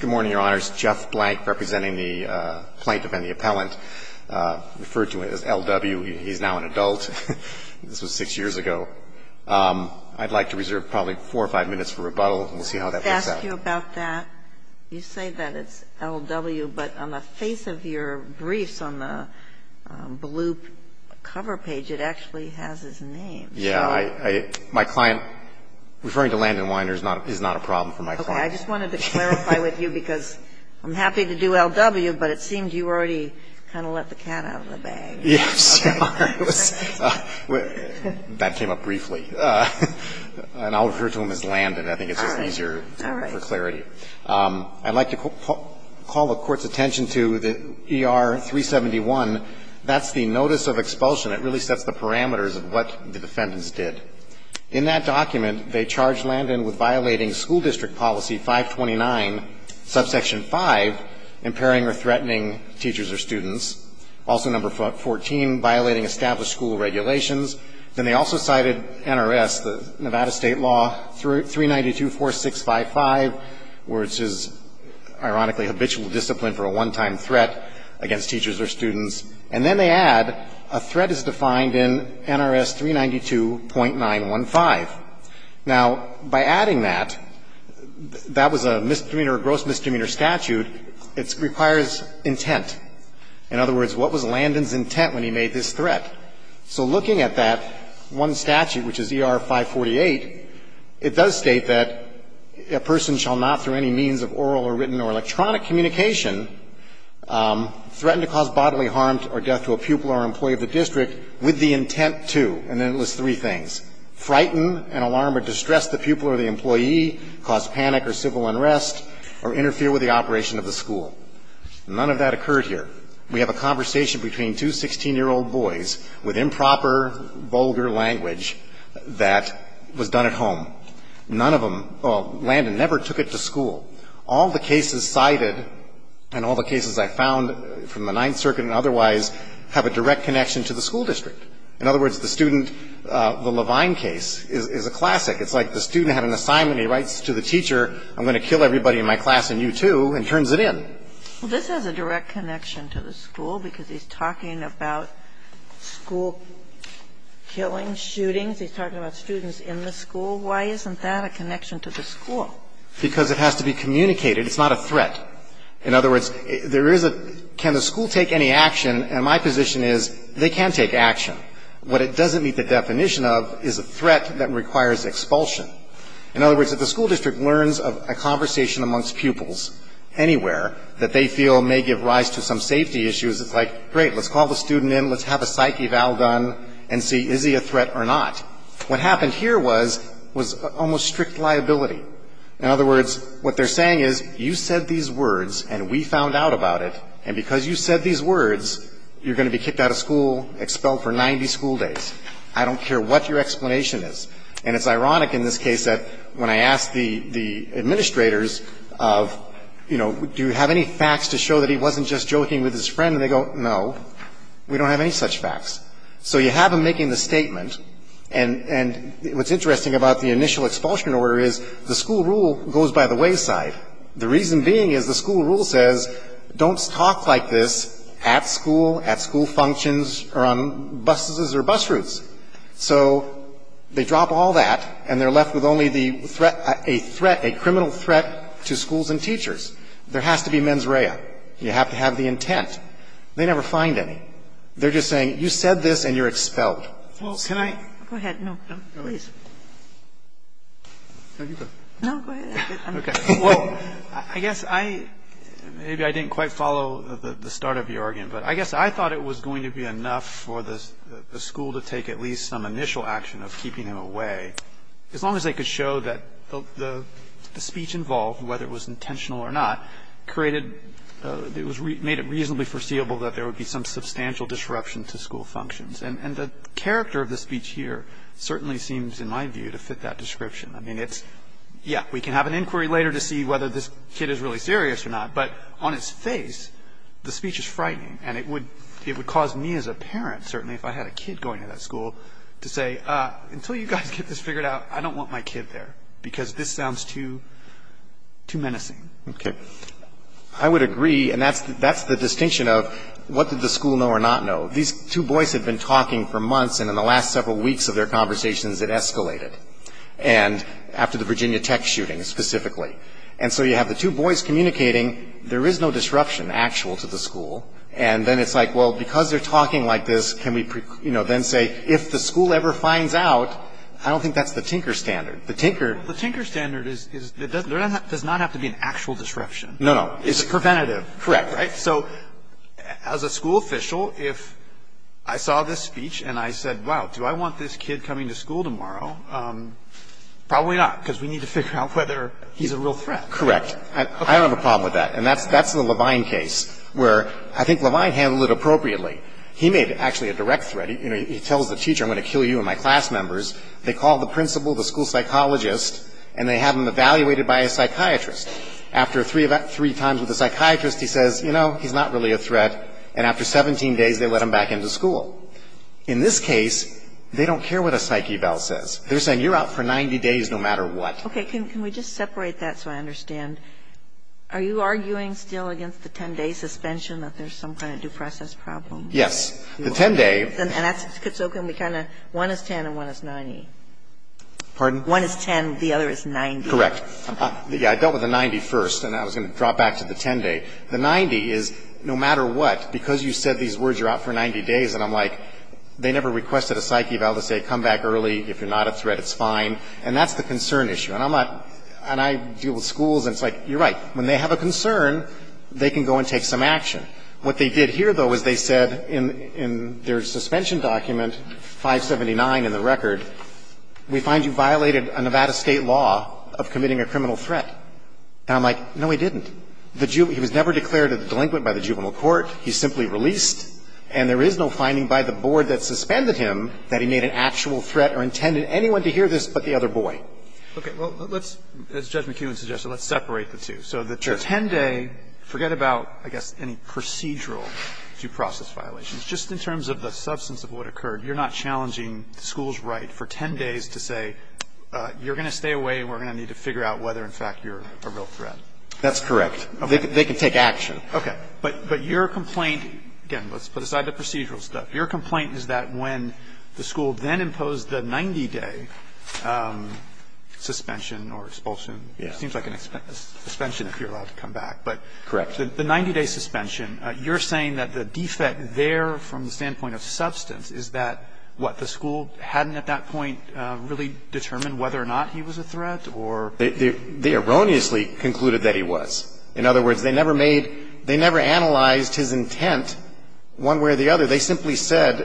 Good morning, Your Honors. Jeff Blank, representing the plaintiff and the appellant, referred to as L.W. He's now an adult. This was six years ago. I'd like to reserve probably four or five minutes for rebuttal, and we'll see how that works out. Can I ask you about that? You say that it's L.W., but on the face of your briefs on the blue cover page, it actually has his name. Yeah. My client, referring to Landon Wynar, is not a problem for my client. Okay. I just wanted to clarify with you, because I'm happy to do L.W., but it seemed you already kind of let the cat out of the bag. Yes. That came up briefly. And I'll refer to him as Landon. I think it's just easier for clarity. All right. I'd like to call the Court's attention to the ER 371. That's the notice of expulsion. It really sets the parameters of what the defendants did. In that document, they charge Landon with violating School District Policy 529, subsection 5, impairing or threatening teachers or students, also number 14, violating established school regulations. Then they also cited NRS, the Nevada state law, 392-4655, which is, ironically, habitual discipline for a one-time threat against teachers or students. And then they add, a threat is defined in NRS 392.915. Now, by adding that, that was a misdemeanor or gross misdemeanor statute. It requires intent. In other words, what was Landon's intent when he made this threat? So looking at that one statute, which is ER 548, it does state that a person shall not, through any means of oral or written or electronic communication, threaten to cause bodily harm or death to a pupil or employee of the district with the intent to, and then it lists three things. Frighten, and alarm or distress the pupil or the employee, cause panic or civil unrest, or interfere with the operation of the school. None of that occurred here. We have a conversation between two 16-year-old boys with improper, vulgar language that was done at home. None of them, well, Landon never took it to school. All the cases cited and all the cases I found from the Ninth Circuit and otherwise have a direct connection to the school district. In other words, the student, the Levine case is a classic. It's like the student had an assignment. He writes to the teacher, I'm going to kill everybody in my class and you too, and turns it in. Well, this has a direct connection to the school because he's talking about school killings, shootings. He's talking about students in the school. Why isn't that a connection to the school? Because it has to be communicated. It's not a threat. In other words, there is a, can the school take any action, and my position is they can take action. What it doesn't meet the definition of is a threat that requires expulsion. In other words, if the school district learns of a conversation amongst pupils anywhere that they feel may give rise to some safety issues, it's like, great, let's call the student in, let's have a psyche valve done and see is he a threat or not. What happened here was almost strict liability. In other words, what they're saying is you said these words and we found out about it, and because you said these words you're going to be kicked out of school, expelled for 90 school days. I don't care what your explanation is. And it's ironic in this case that when I asked the administrators of, you know, do you have any facts to show that he wasn't just joking with his friend, and they go, no, we don't have any such facts. So you have him making the statement, and what's interesting about the initial expulsion order is the school rule goes by the wayside. The reason being is the school rule says don't talk like this at school, at school functions, or on buses or bus routes. So they drop all that and they're left with only the threat, a threat, a criminal threat to schools and teachers. There has to be mens rea. You have to have the intent. They never find any. They're just saying you said this and you're expelled. So can I go ahead? No, please. No, go ahead. Okay. Well, I guess I, maybe I didn't quite follow the start of your argument, but I guess I thought it was going to be enough for the school to take at least some initial action of keeping him away, as long as they could show that the speech involved, whether it was intentional or not, created, made it reasonably foreseeable that there would be some substantial disruption to school functions. And the character of the speech here certainly seems, in my view, to fit that description. I mean, it's, yeah, we can have an inquiry later to see whether this kid is really serious or not, but on its face, the speech is frightening. And it would cause me as a parent, certainly, if I had a kid going to that school, to say until you guys get this figured out, I don't want my kid there, because this sounds too menacing. Okay. But I would agree, and that's the distinction of what did the school know or not know. These two boys had been talking for months, and in the last several weeks of their conversations, it escalated. And after the Virginia Tech shooting, specifically. And so you have the two boys communicating, there is no disruption actual to the school, and then it's like, well, because they're talking like this, can we, you know, then say, if the school ever finds out, I don't think that's the Tinker standard. The Tinker. The Tinker standard does not have to be an actual disruption. No, no. It's preventative. Correct. Right? So as a school official, if I saw this speech, and I said, wow, do I want this kid coming to school tomorrow? Probably not, because we need to figure out whether he's a real threat. Correct. I don't have a problem with that. And that's the Levine case, where I think Levine handled it appropriately. He made it actually a direct threat. You know, he tells the teacher, I'm going to kill you and my class members. They call the principal, the school psychologist, and they have him evaluated by a psychiatrist. After three times with the psychiatrist, he says, you know, he's not really a threat. And after 17 days, they let him back into school. In this case, they don't care what a psyche bell says. They're saying, you're out for 90 days no matter what. Okay. Can we just separate that so I understand? Are you arguing still against the 10-day suspension, that there's some kind of due process problem? Yes. The 10-day. One is 10 and one is 90. Pardon? One is 10, the other is 90. Correct. I dealt with the 90 first, and I was going to drop back to the 10-day. The 90 is, no matter what, because you said these words, you're out for 90 days, and I'm like, they never requested a psyche bell to say, come back early, if you're not a threat, it's fine. And that's the concern issue. And I'm not – and I deal with schools, and it's like, you're right. When they have a concern, they can go and take some action. What they did here, though, is they said in their suspension document, 579 in the record, we find you violated a Nevada state law of committing a criminal threat. And I'm like, no, he didn't. He was never declared a delinquent by the juvenile court. He's simply released. And there is no finding by the board that suspended him that he made an actual threat or intended anyone to hear this but the other boy. Okay. Well, let's, as Judge McEwen suggested, let's separate the two. Sure. For 10 days, forget about, I guess, any procedural due process violations. Just in terms of the substance of what occurred, you're not challenging the school's right for 10 days to say, you're going to stay away and we're going to need to figure out whether, in fact, you're a real threat. That's correct. They can take action. Okay. But your complaint – again, let's put aside the procedural stuff. Your complaint is that when the school then imposed the 90-day suspension or expulsion – it seems like a suspension if you're allowed to come back. Correct. But the 90-day suspension, you're saying that the defect there from the standpoint of substance is that, what, the school hadn't at that point really determined whether or not he was a threat or – They erroneously concluded that he was. In other words, they never made – they never analyzed his intent one way or the other. They simply said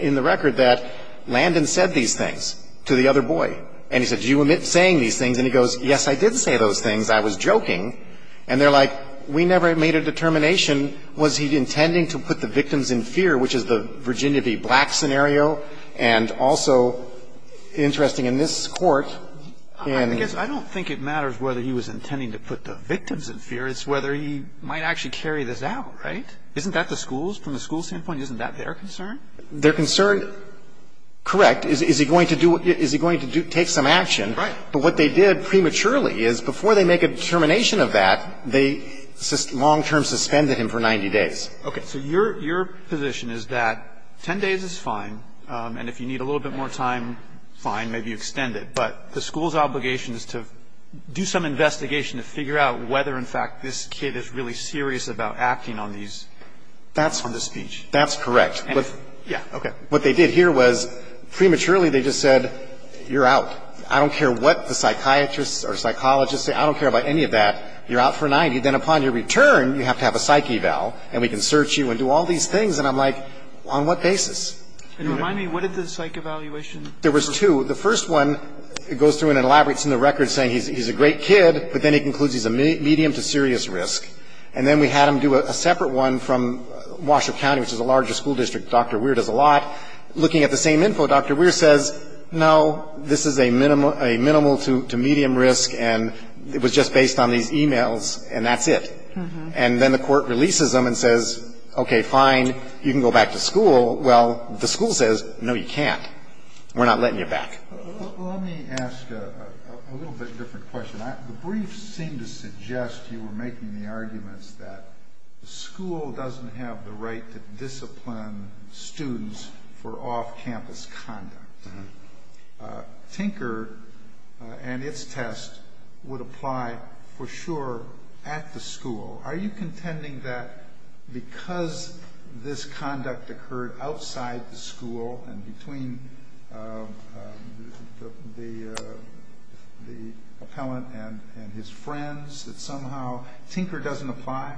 in the record that Landon said these things to the other boy. And he said, do you omit saying these things? And he goes, yes, I did say those things. I was joking. And they're like, we never made a determination. Was he intending to put the victims in fear, which is the Virginia v. Black scenario? And also, interesting, in this Court, in – I guess I don't think it matters whether he was intending to put the victims in fear. It's whether he might actually carry this out, right? Isn't that the school's – from the school's standpoint, isn't that their concern? Their concern – correct. Is he going to do – is he going to take some action? Right. But what they did prematurely is before they make a determination of that, they long-term suspended him for 90 days. Okay. So your position is that 10 days is fine, and if you need a little bit more time, fine, maybe you extend it. But the school's obligation is to do some investigation to figure out whether, in fact, this kid is really serious about acting on these – on this speech. That's correct. Yeah. What they did here was prematurely they just said, you're out. I don't care what the psychiatrists or psychologists say. I don't care about any of that. You're out for 90. Then upon your return, you have to have a psych eval, and we can search you and do all these things. And I'm like, on what basis? And remind me, what did the psych evaluation? There was two. The first one goes through and elaborates in the record saying he's a great kid, but then he concludes he's a medium to serious risk. And then we had them do a separate one from Washoe County, which is a larger school district. Dr. Weir does a lot. Looking at the same info, Dr. Weir says, no, this is a minimal to medium risk, and it was just based on these e-mails, and that's it. And then the court releases them and says, okay, fine, you can go back to school. Well, the school says, no, you can't. We're not letting you back. Let me ask a little bit different question. The briefs seem to suggest you were making the arguments that the school doesn't have the right to discipline students for off-campus conduct. Tinker and its test would apply for sure at the school. Are you contending that because this conduct occurred outside the school and between the appellant and his friends that somehow Tinker doesn't apply?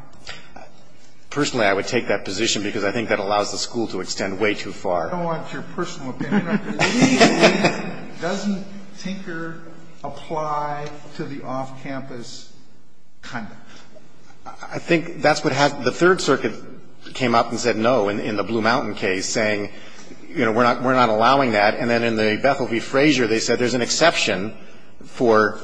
Personally, I would take that position because I think that allows the school to extend way too far. I don't want your personal opinion. The brief doesn't Tinker apply to the off-campus conduct. I think that's what happened. The Third Circuit came up and said no in the Blue Mountain case, saying, you know, we're not allowing that. And then in the Bethel v. Frazier, they said there's an exception for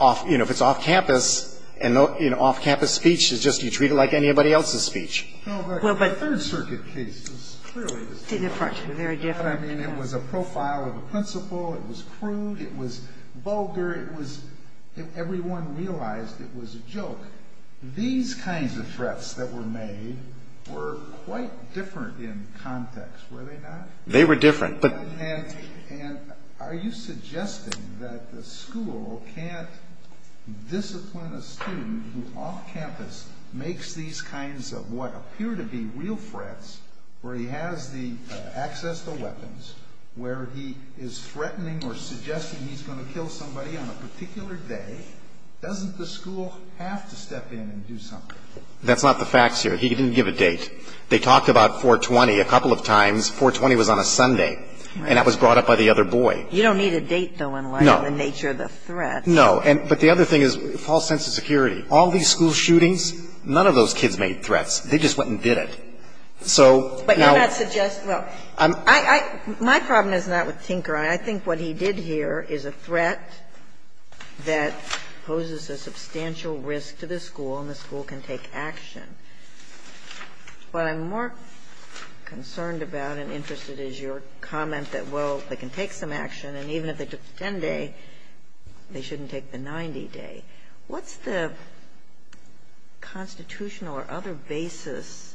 off, you know, if it's off-campus, and, you know, off-campus speech is just you treat it like anybody else's speech. The Third Circuit case is clearly the same. It was a profile of a principal. It was crude. It was vulgar. Everyone realized it was a joke. These kinds of threats that were made were quite different in context, were they not? They were different. And are you suggesting that the school can't discipline a student who off-campus makes these kinds of what appear to be real threats, where he has the access to weapons, where he is threatening or suggesting he's going to kill somebody on a particular day? Doesn't the school have to step in and do something? That's not the facts here. He didn't give a date. They talked about 4-20 a couple of times. 4-20 was on a Sunday. And that was brought up by the other boy. You don't need a date, though, in light of the nature of the threat. No. But the other thing is false sense of security. All these school shootings, none of those kids made threats. They just went and did it. So now – But you're not suggesting – well, my problem is not with Tinker. I think what he did here is a threat that poses a substantial risk to the school, and the school can take action. What I'm more concerned about and interested is your comment that, well, they can take some action, and even if they took the 10-day, they shouldn't take the 90-day. What's the constitutional or other basis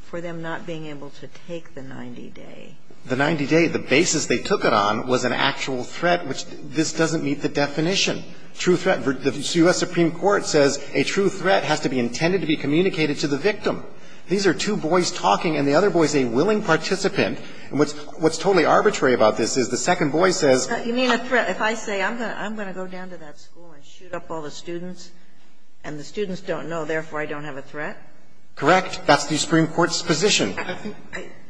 for them not being able to take the 90-day? The 90-day, the basis they took it on was an actual threat, which this doesn't meet the definition. The U.S. Supreme Court says a true threat has to be intended to be communicated to the victim. These are two boys talking, and the other boy is a willing participant. And what's totally arbitrary about this is the second boy says – You mean a threat – if I say I'm going to go down to that school and shoot up all the students, and the students don't know, therefore I don't have a threat? Correct. That's the Supreme Court's position.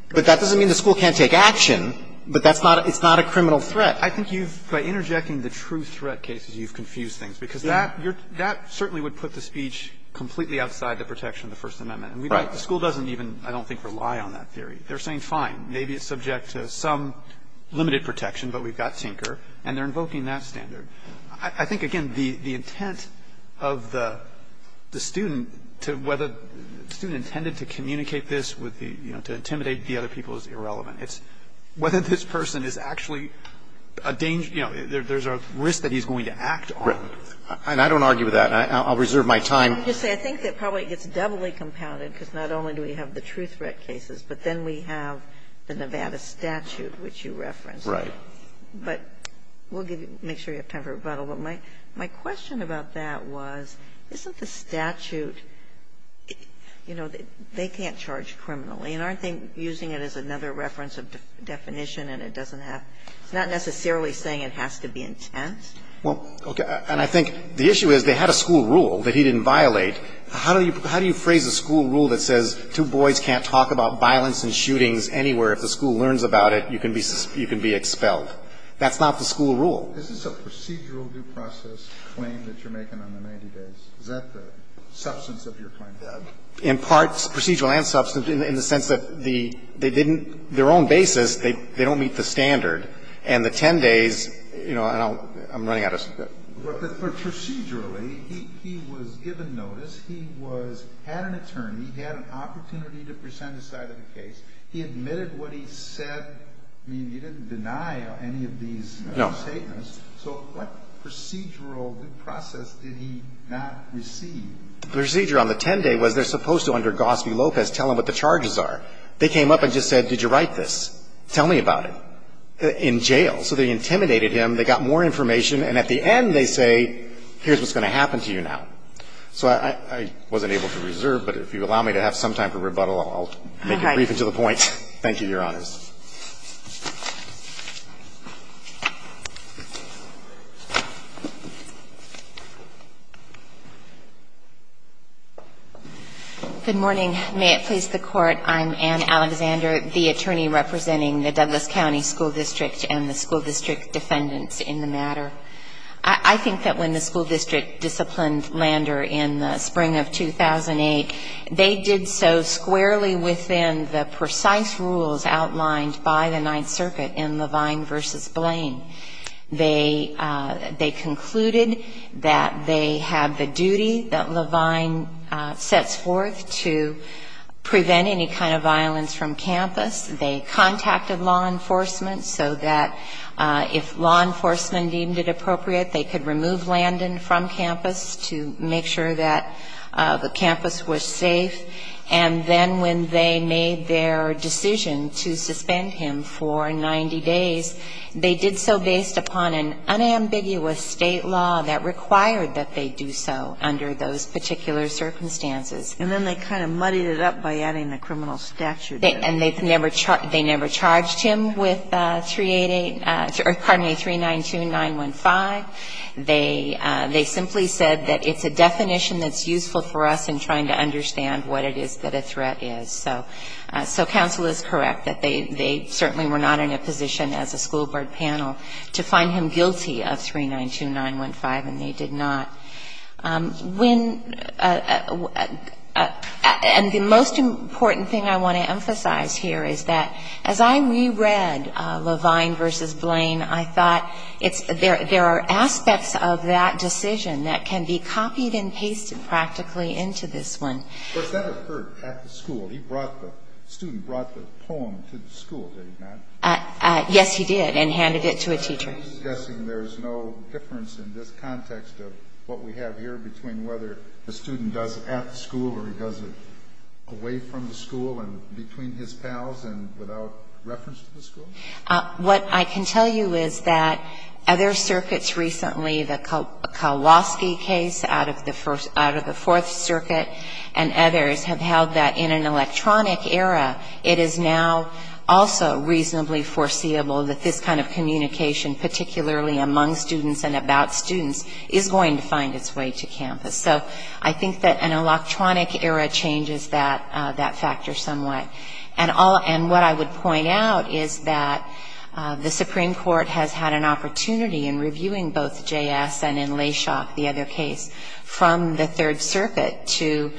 But that doesn't mean the school can't take action. But that's not – it's not a criminal threat. I think you've – by interjecting the true threat cases, you've confused things, because that – that certainly would put the speech completely outside the protection of the First Amendment. Right. And the school doesn't even, I don't think, rely on that theory. They're saying, fine, maybe it's subject to some limited protection, but we've got Tinker, and they're invoking that standard. I think, again, the intent of the student to – whether the student intended to communicate this with the – you know, to intimidate the other people is irrelevant. It's whether this person is actually a danger – you know, there's a risk that he's going to act on it. Right. And I don't argue with that. I'll reserve my time. Let me just say, I think that probably it gets doubly compounded, because not only do we have the true threat cases, but then we have the Nevada statute, which you referenced. Right. But we'll give you – make sure you have time for rebuttal. But my question about that was, isn't the statute – you know, they can't charge criminally, and aren't they using it as another reference of definition, and it doesn't have – it's not necessarily saying it has to be intense. Well, okay. And I think the issue is they had a school rule that he didn't violate. How do you – how do you phrase a school rule that says two boys can't talk about violence and shootings anywhere? If the school learns about it, you can be expelled. That's not the school rule. Isn't the procedural due process claim that you're making on the 90 days, is that the substance of your claim? In part, procedural and substance, in the sense that the – they didn't – their own basis, they don't meet the standard. And the 10 days, you know, and I'll – I'm running out of time. But procedurally, he was given notice. He was – had an attorney. He had an opportunity to present his side of the case. He admitted what he said. I mean, he didn't deny any of these statements. No. So what procedural due process did he not receive? The procedure on the 10 day was they're supposed to, under Gospie Lopez, tell him what the charges are. They came up and just said, did you write this? Tell me about it, in jail. So they intimidated him. They got more information. And at the end, they say, here's what's going to happen to you now. So I wasn't able to reserve, but if you allow me to have some time for rebuttal, I'll make it brief and to the point. Thank you, Your Honors. Good morning. May it please the Court. I'm Anne Alexander, the attorney representing the Douglas County School District and the school district defendants in the matter. I think that when the school district disciplined Lander in the spring of 2008, and the school district defendants. They concluded that they have the duty that Levine sets forth to prevent any kind of violence from campus. They contacted law enforcement so that if law enforcement deemed it appropriate, they could remove Landon from campus to make sure that the campus was safe. And then when they made their decision to suspend him for 90 days, they did so based upon an unambiguous state law that required that they do so under those particular circumstances. And then they kind of muddied it up by adding the criminal statute. And they never charged him with 388 or, pardon me, 392915. They simply said that it's a definition that's useful for us in trying to understand what it is that a threat is. So counsel is correct that they certainly were not in a position as a school board panel to find him guilty of 392915, and they did not. And the most important thing I want to emphasize here is that as I reread Levine v. Blaine, I thought there are aspects of that decision that can be copied and pasted practically into this one. But he never heard at the school. The student brought the poem to the school, did he not? Yes, he did, and handed it to a teacher. Are you suggesting there is no difference in this context of what we have here between whether the student does it at the school or he does it away from the school and between his pals and without reference to the school? What I can tell you is that other circuits recently, the Kowalski case out of the Fourth Circuit and others have held that in an electronic era, it is now also reasonably foreseeable that this kind of communication, particularly among students and about students, is going to find its way to campus. So I think that an electronic era changes that factor somewhat. And what I would point out is that the Supreme Court has had an opportunity in reviewing both J.S. and in Leshock, the other case, from the Third Circuit to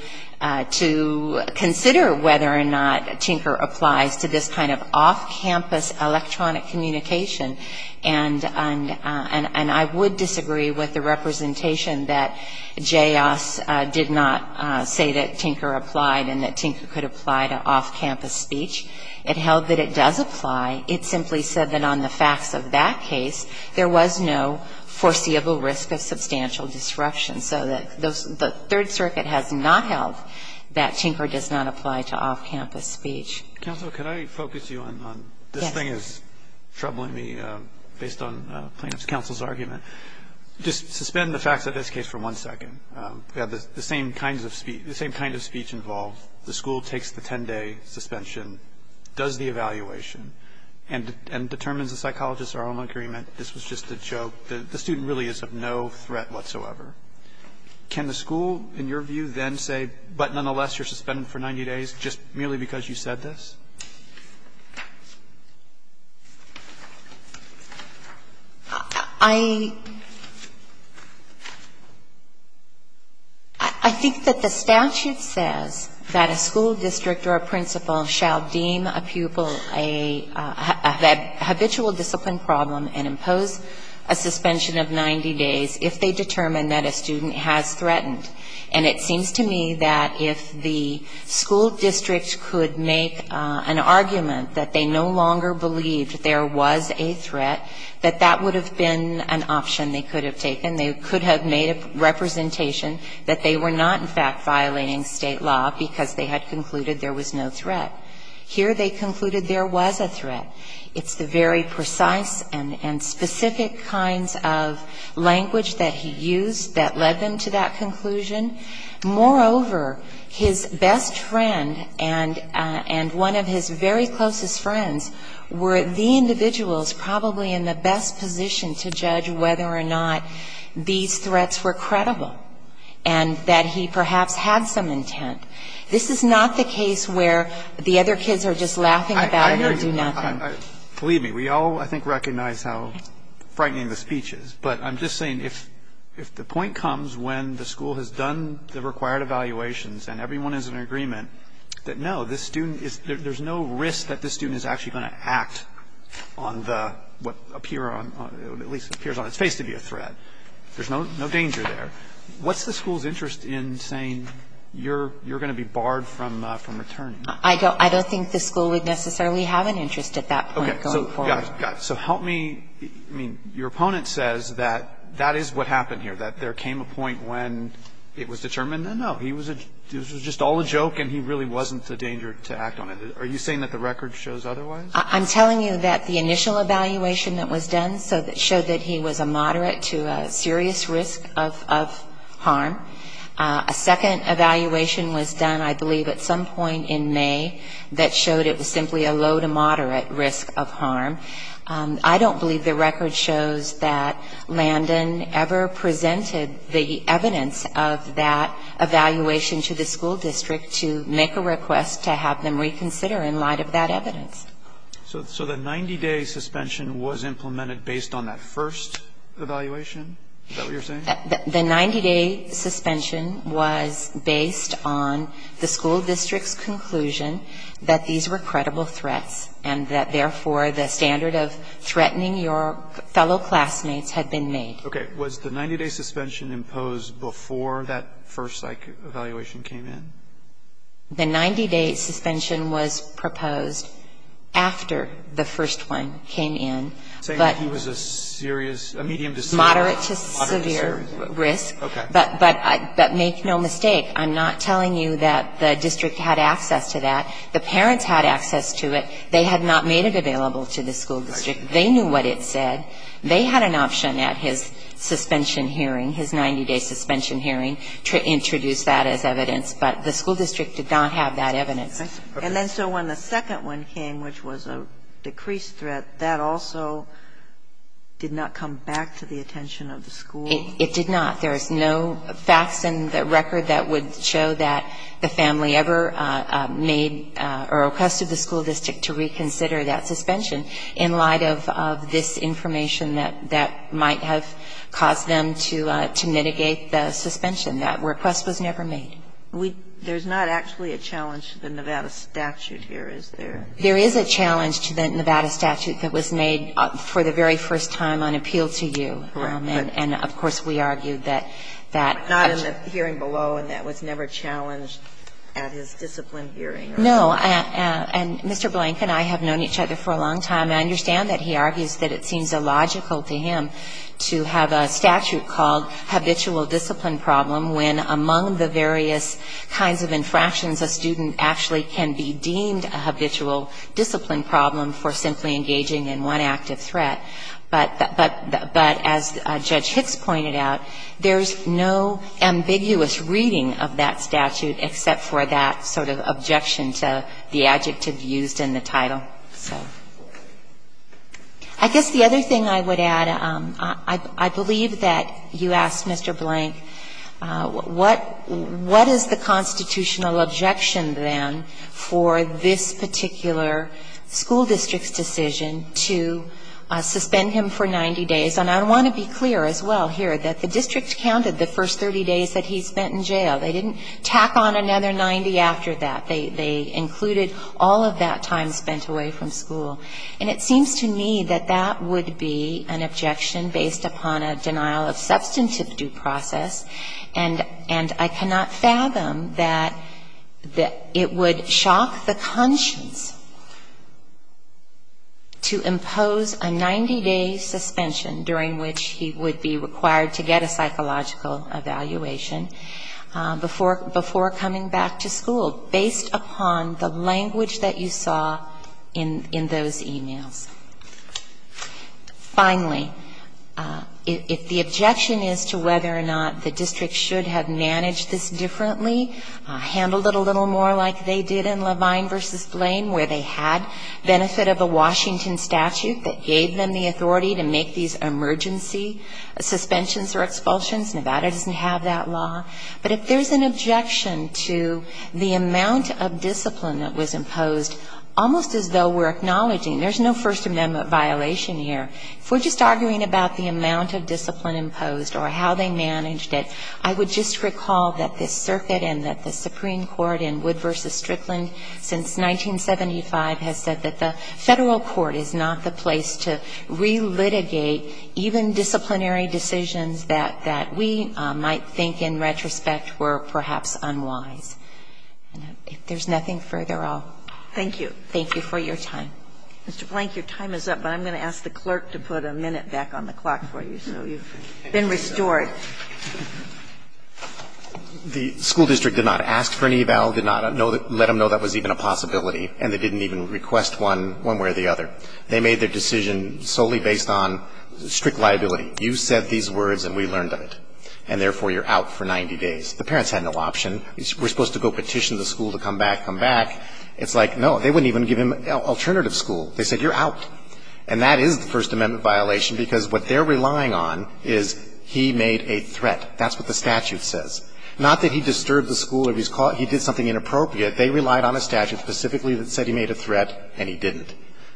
consider whether or not Tinker applies to this kind of off-campus electronic communication, and I would disagree with the representation that J.S. did not say that Tinker applied and that Tinker could apply to off-campus speech. It held that it does apply. It simply said that on the facts of that case, there was no foreseeable risk of substantial disruption. So the Third Circuit has not held that Tinker does not apply to off-campus speech. Counsel, could I focus you on this thing that's troubling me based on plaintiff's counsel's argument? Just suspend the facts of this case for one second. We have the same kind of speech involved. The school takes the 10-day suspension, does the evaluation, and determines the psychologist's own agreement that this was just a joke, that the student really is of no threat whatsoever. Can the school, in your view, then say, but nonetheless, you're suspended for 90 days just merely because you said this? I think that the statute says that a school district or a principal shall deem a pupil a habitual discipline problem and impose a suspension of 90 days if they determine that a student has threatened. And it seems to me that if the school district could make an argument that they no longer believed there was a threat, that that would have been an option they could have taken, they could have made a representation that they were not, in fact, violating state law because they had concluded there was no threat. Here they concluded there was a threat. It's the very precise and specific kinds of language that he used that led them to that conclusion. Moreover, his best friend and one of his very closest friends were the individuals probably in the best position to judge whether or not these threats were credible and that he perhaps had some intent. This is not the case where the other kids are just laughing about it or do nothing. Believe me, we all, I think, recognize how frightening the speech is. But I'm just saying if the point comes when the school has done the required evaluations and everyone is in agreement that, no, this student is no risk that this student is actually going to act on the, what appear on, at least appears on its face to be a threat. There's no danger there. What's the school's interest in saying you're going to be barred from returning? I don't think the school would necessarily have an interest at that point going forward. Okay. So help me. I mean, your opponent says that that is what happened here, that there came a point when it was determined, no, he was a, this was just all a joke and he really wasn't a danger to act on it. Are you saying that the record shows otherwise? I'm telling you that the initial evaluation that was done showed that he was a moderate to a serious risk of harm. A second evaluation was done, I believe, at some point in May that showed it was simply a low to moderate risk of harm. I don't believe the record shows that Landon ever presented the evidence of that evaluation to the school district to make a request to have them reconsider in light of that evidence. So the 90-day suspension was implemented based on that first evaluation? Is that what you're saying? The 90-day suspension was based on the school district's conclusion that these were credible threats and that, therefore, the standard of threatening your fellow classmates had been made. Okay. Was the 90-day suspension imposed before that first evaluation came in? The 90-day suspension was proposed after the first one came in. Are you saying that he was a serious, a medium to severe? Moderate to severe risk. Okay. But make no mistake, I'm not telling you that the district had access to that. The parents had access to it. They had not made it available to the school district. They knew what it said. They had an option at his suspension hearing, his 90-day suspension hearing, to introduce that as evidence. But the school district did not have that evidence. And then so when the second one came, which was a decreased threat, that also did not come back to the attention of the school? It did not. There is no facts in the record that would show that the family ever made or requested the school district to reconsider that suspension in light of this information that might have caused them to mitigate the suspension. That request was never made. There's not actually a challenge to the Nevada statute here, is there? There is a challenge to the Nevada statute that was made for the very first time on appeal to you. Correct. And, of course, we argue that that Not in the hearing below and that was never challenged at his discipline hearing. No. And Mr. Blank and I have known each other for a long time. I understand that he argues that it seems illogical to him to have a statute called habitual discipline problem when among the various kinds of infractions, a student actually can be deemed a habitual discipline problem for simply engaging in one active threat. But as Judge Hicks pointed out, there's no ambiguous reading of that statute except for that sort of objection to the adjective used in the title. So I guess the other thing I would add, I believe that you asked Mr. Blank what is the constitutional objection then for this particular school district's decision to suspend him for 90 days. And I want to be clear as well here that the district counted the first 30 days that he spent in jail. They didn't tack on another 90 after that. They included all of that time spent away from school. And it seems to me that that would be an objection based upon a denial of substantive due process. And I cannot fathom that it would shock the conscience to impose a 90-day suspension during which he would be required to get a psychological evaluation before coming back to school, based upon the language that you saw in those e-mails. Finally, if the objection is to whether or not the district should have managed this differently, handled it a little more like they did in Levine v. Blaine where they had benefit of a Washington statute that gave them the authority to make these emergency suspensions or expulsions. Nevada doesn't have that law. But if there's an objection to the amount of discipline that was imposed, almost as though we're acknowledging, there's no First Amendment violation here. If we're just arguing about the amount of discipline imposed or how they managed it, I would just recall that this circuit and that the Supreme Court in Wood v. Strickland since 1975 has said that the Federal court is not the place to re-litigate even disciplinary decisions that we might think in retrospect were perhaps unwise. If there's nothing further, I'll thank you for your time. Mr. Blank, your time is up, but I'm going to ask the clerk to put a minute back on the clock for you so you've been restored. The school district did not ask for an eval, did not let them know that was even a possibility, and they didn't even request one one way or the other. They made their decision solely based on strict liability. You said these words and we learned of it, and therefore you're out for 90 days. The parents had no option. We're supposed to go petition the school to come back, come back. It's like, no, they wouldn't even give him alternative school. They said you're out. And that is the First Amendment violation, because what they're relying on is he made a threat. That's what the statute says. Not that he disturbed the school or he did something inappropriate. They relied on a statute specifically that said he made a threat, and he didn't.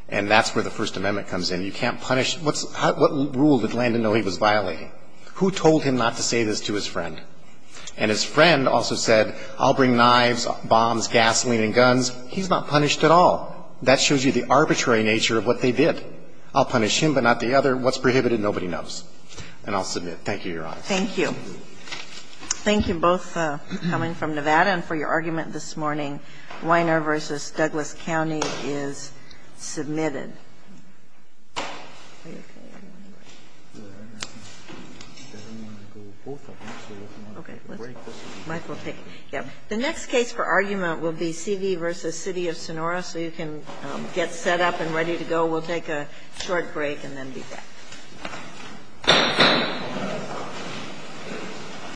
And that's where the First Amendment comes in. You can't punish. What rule did Landon know he was violating? Who told him not to say this to his friend? And his friend also said, I'll bring knives, bombs, gasoline and guns. He's not punished at all. That shows you the arbitrary nature of what they did. I'll punish him, but not the other. What's prohibited, nobody knows. And I'll submit. Thank you, Your Honor. Thank you. Thank you both for coming from Nevada and for your argument this morning. Weiner v. Douglas County is submitted. The next case for argument will be C.D. v. City of Sonora. So you can get set up and ready to go. We'll take a short break and then be back. Thank you.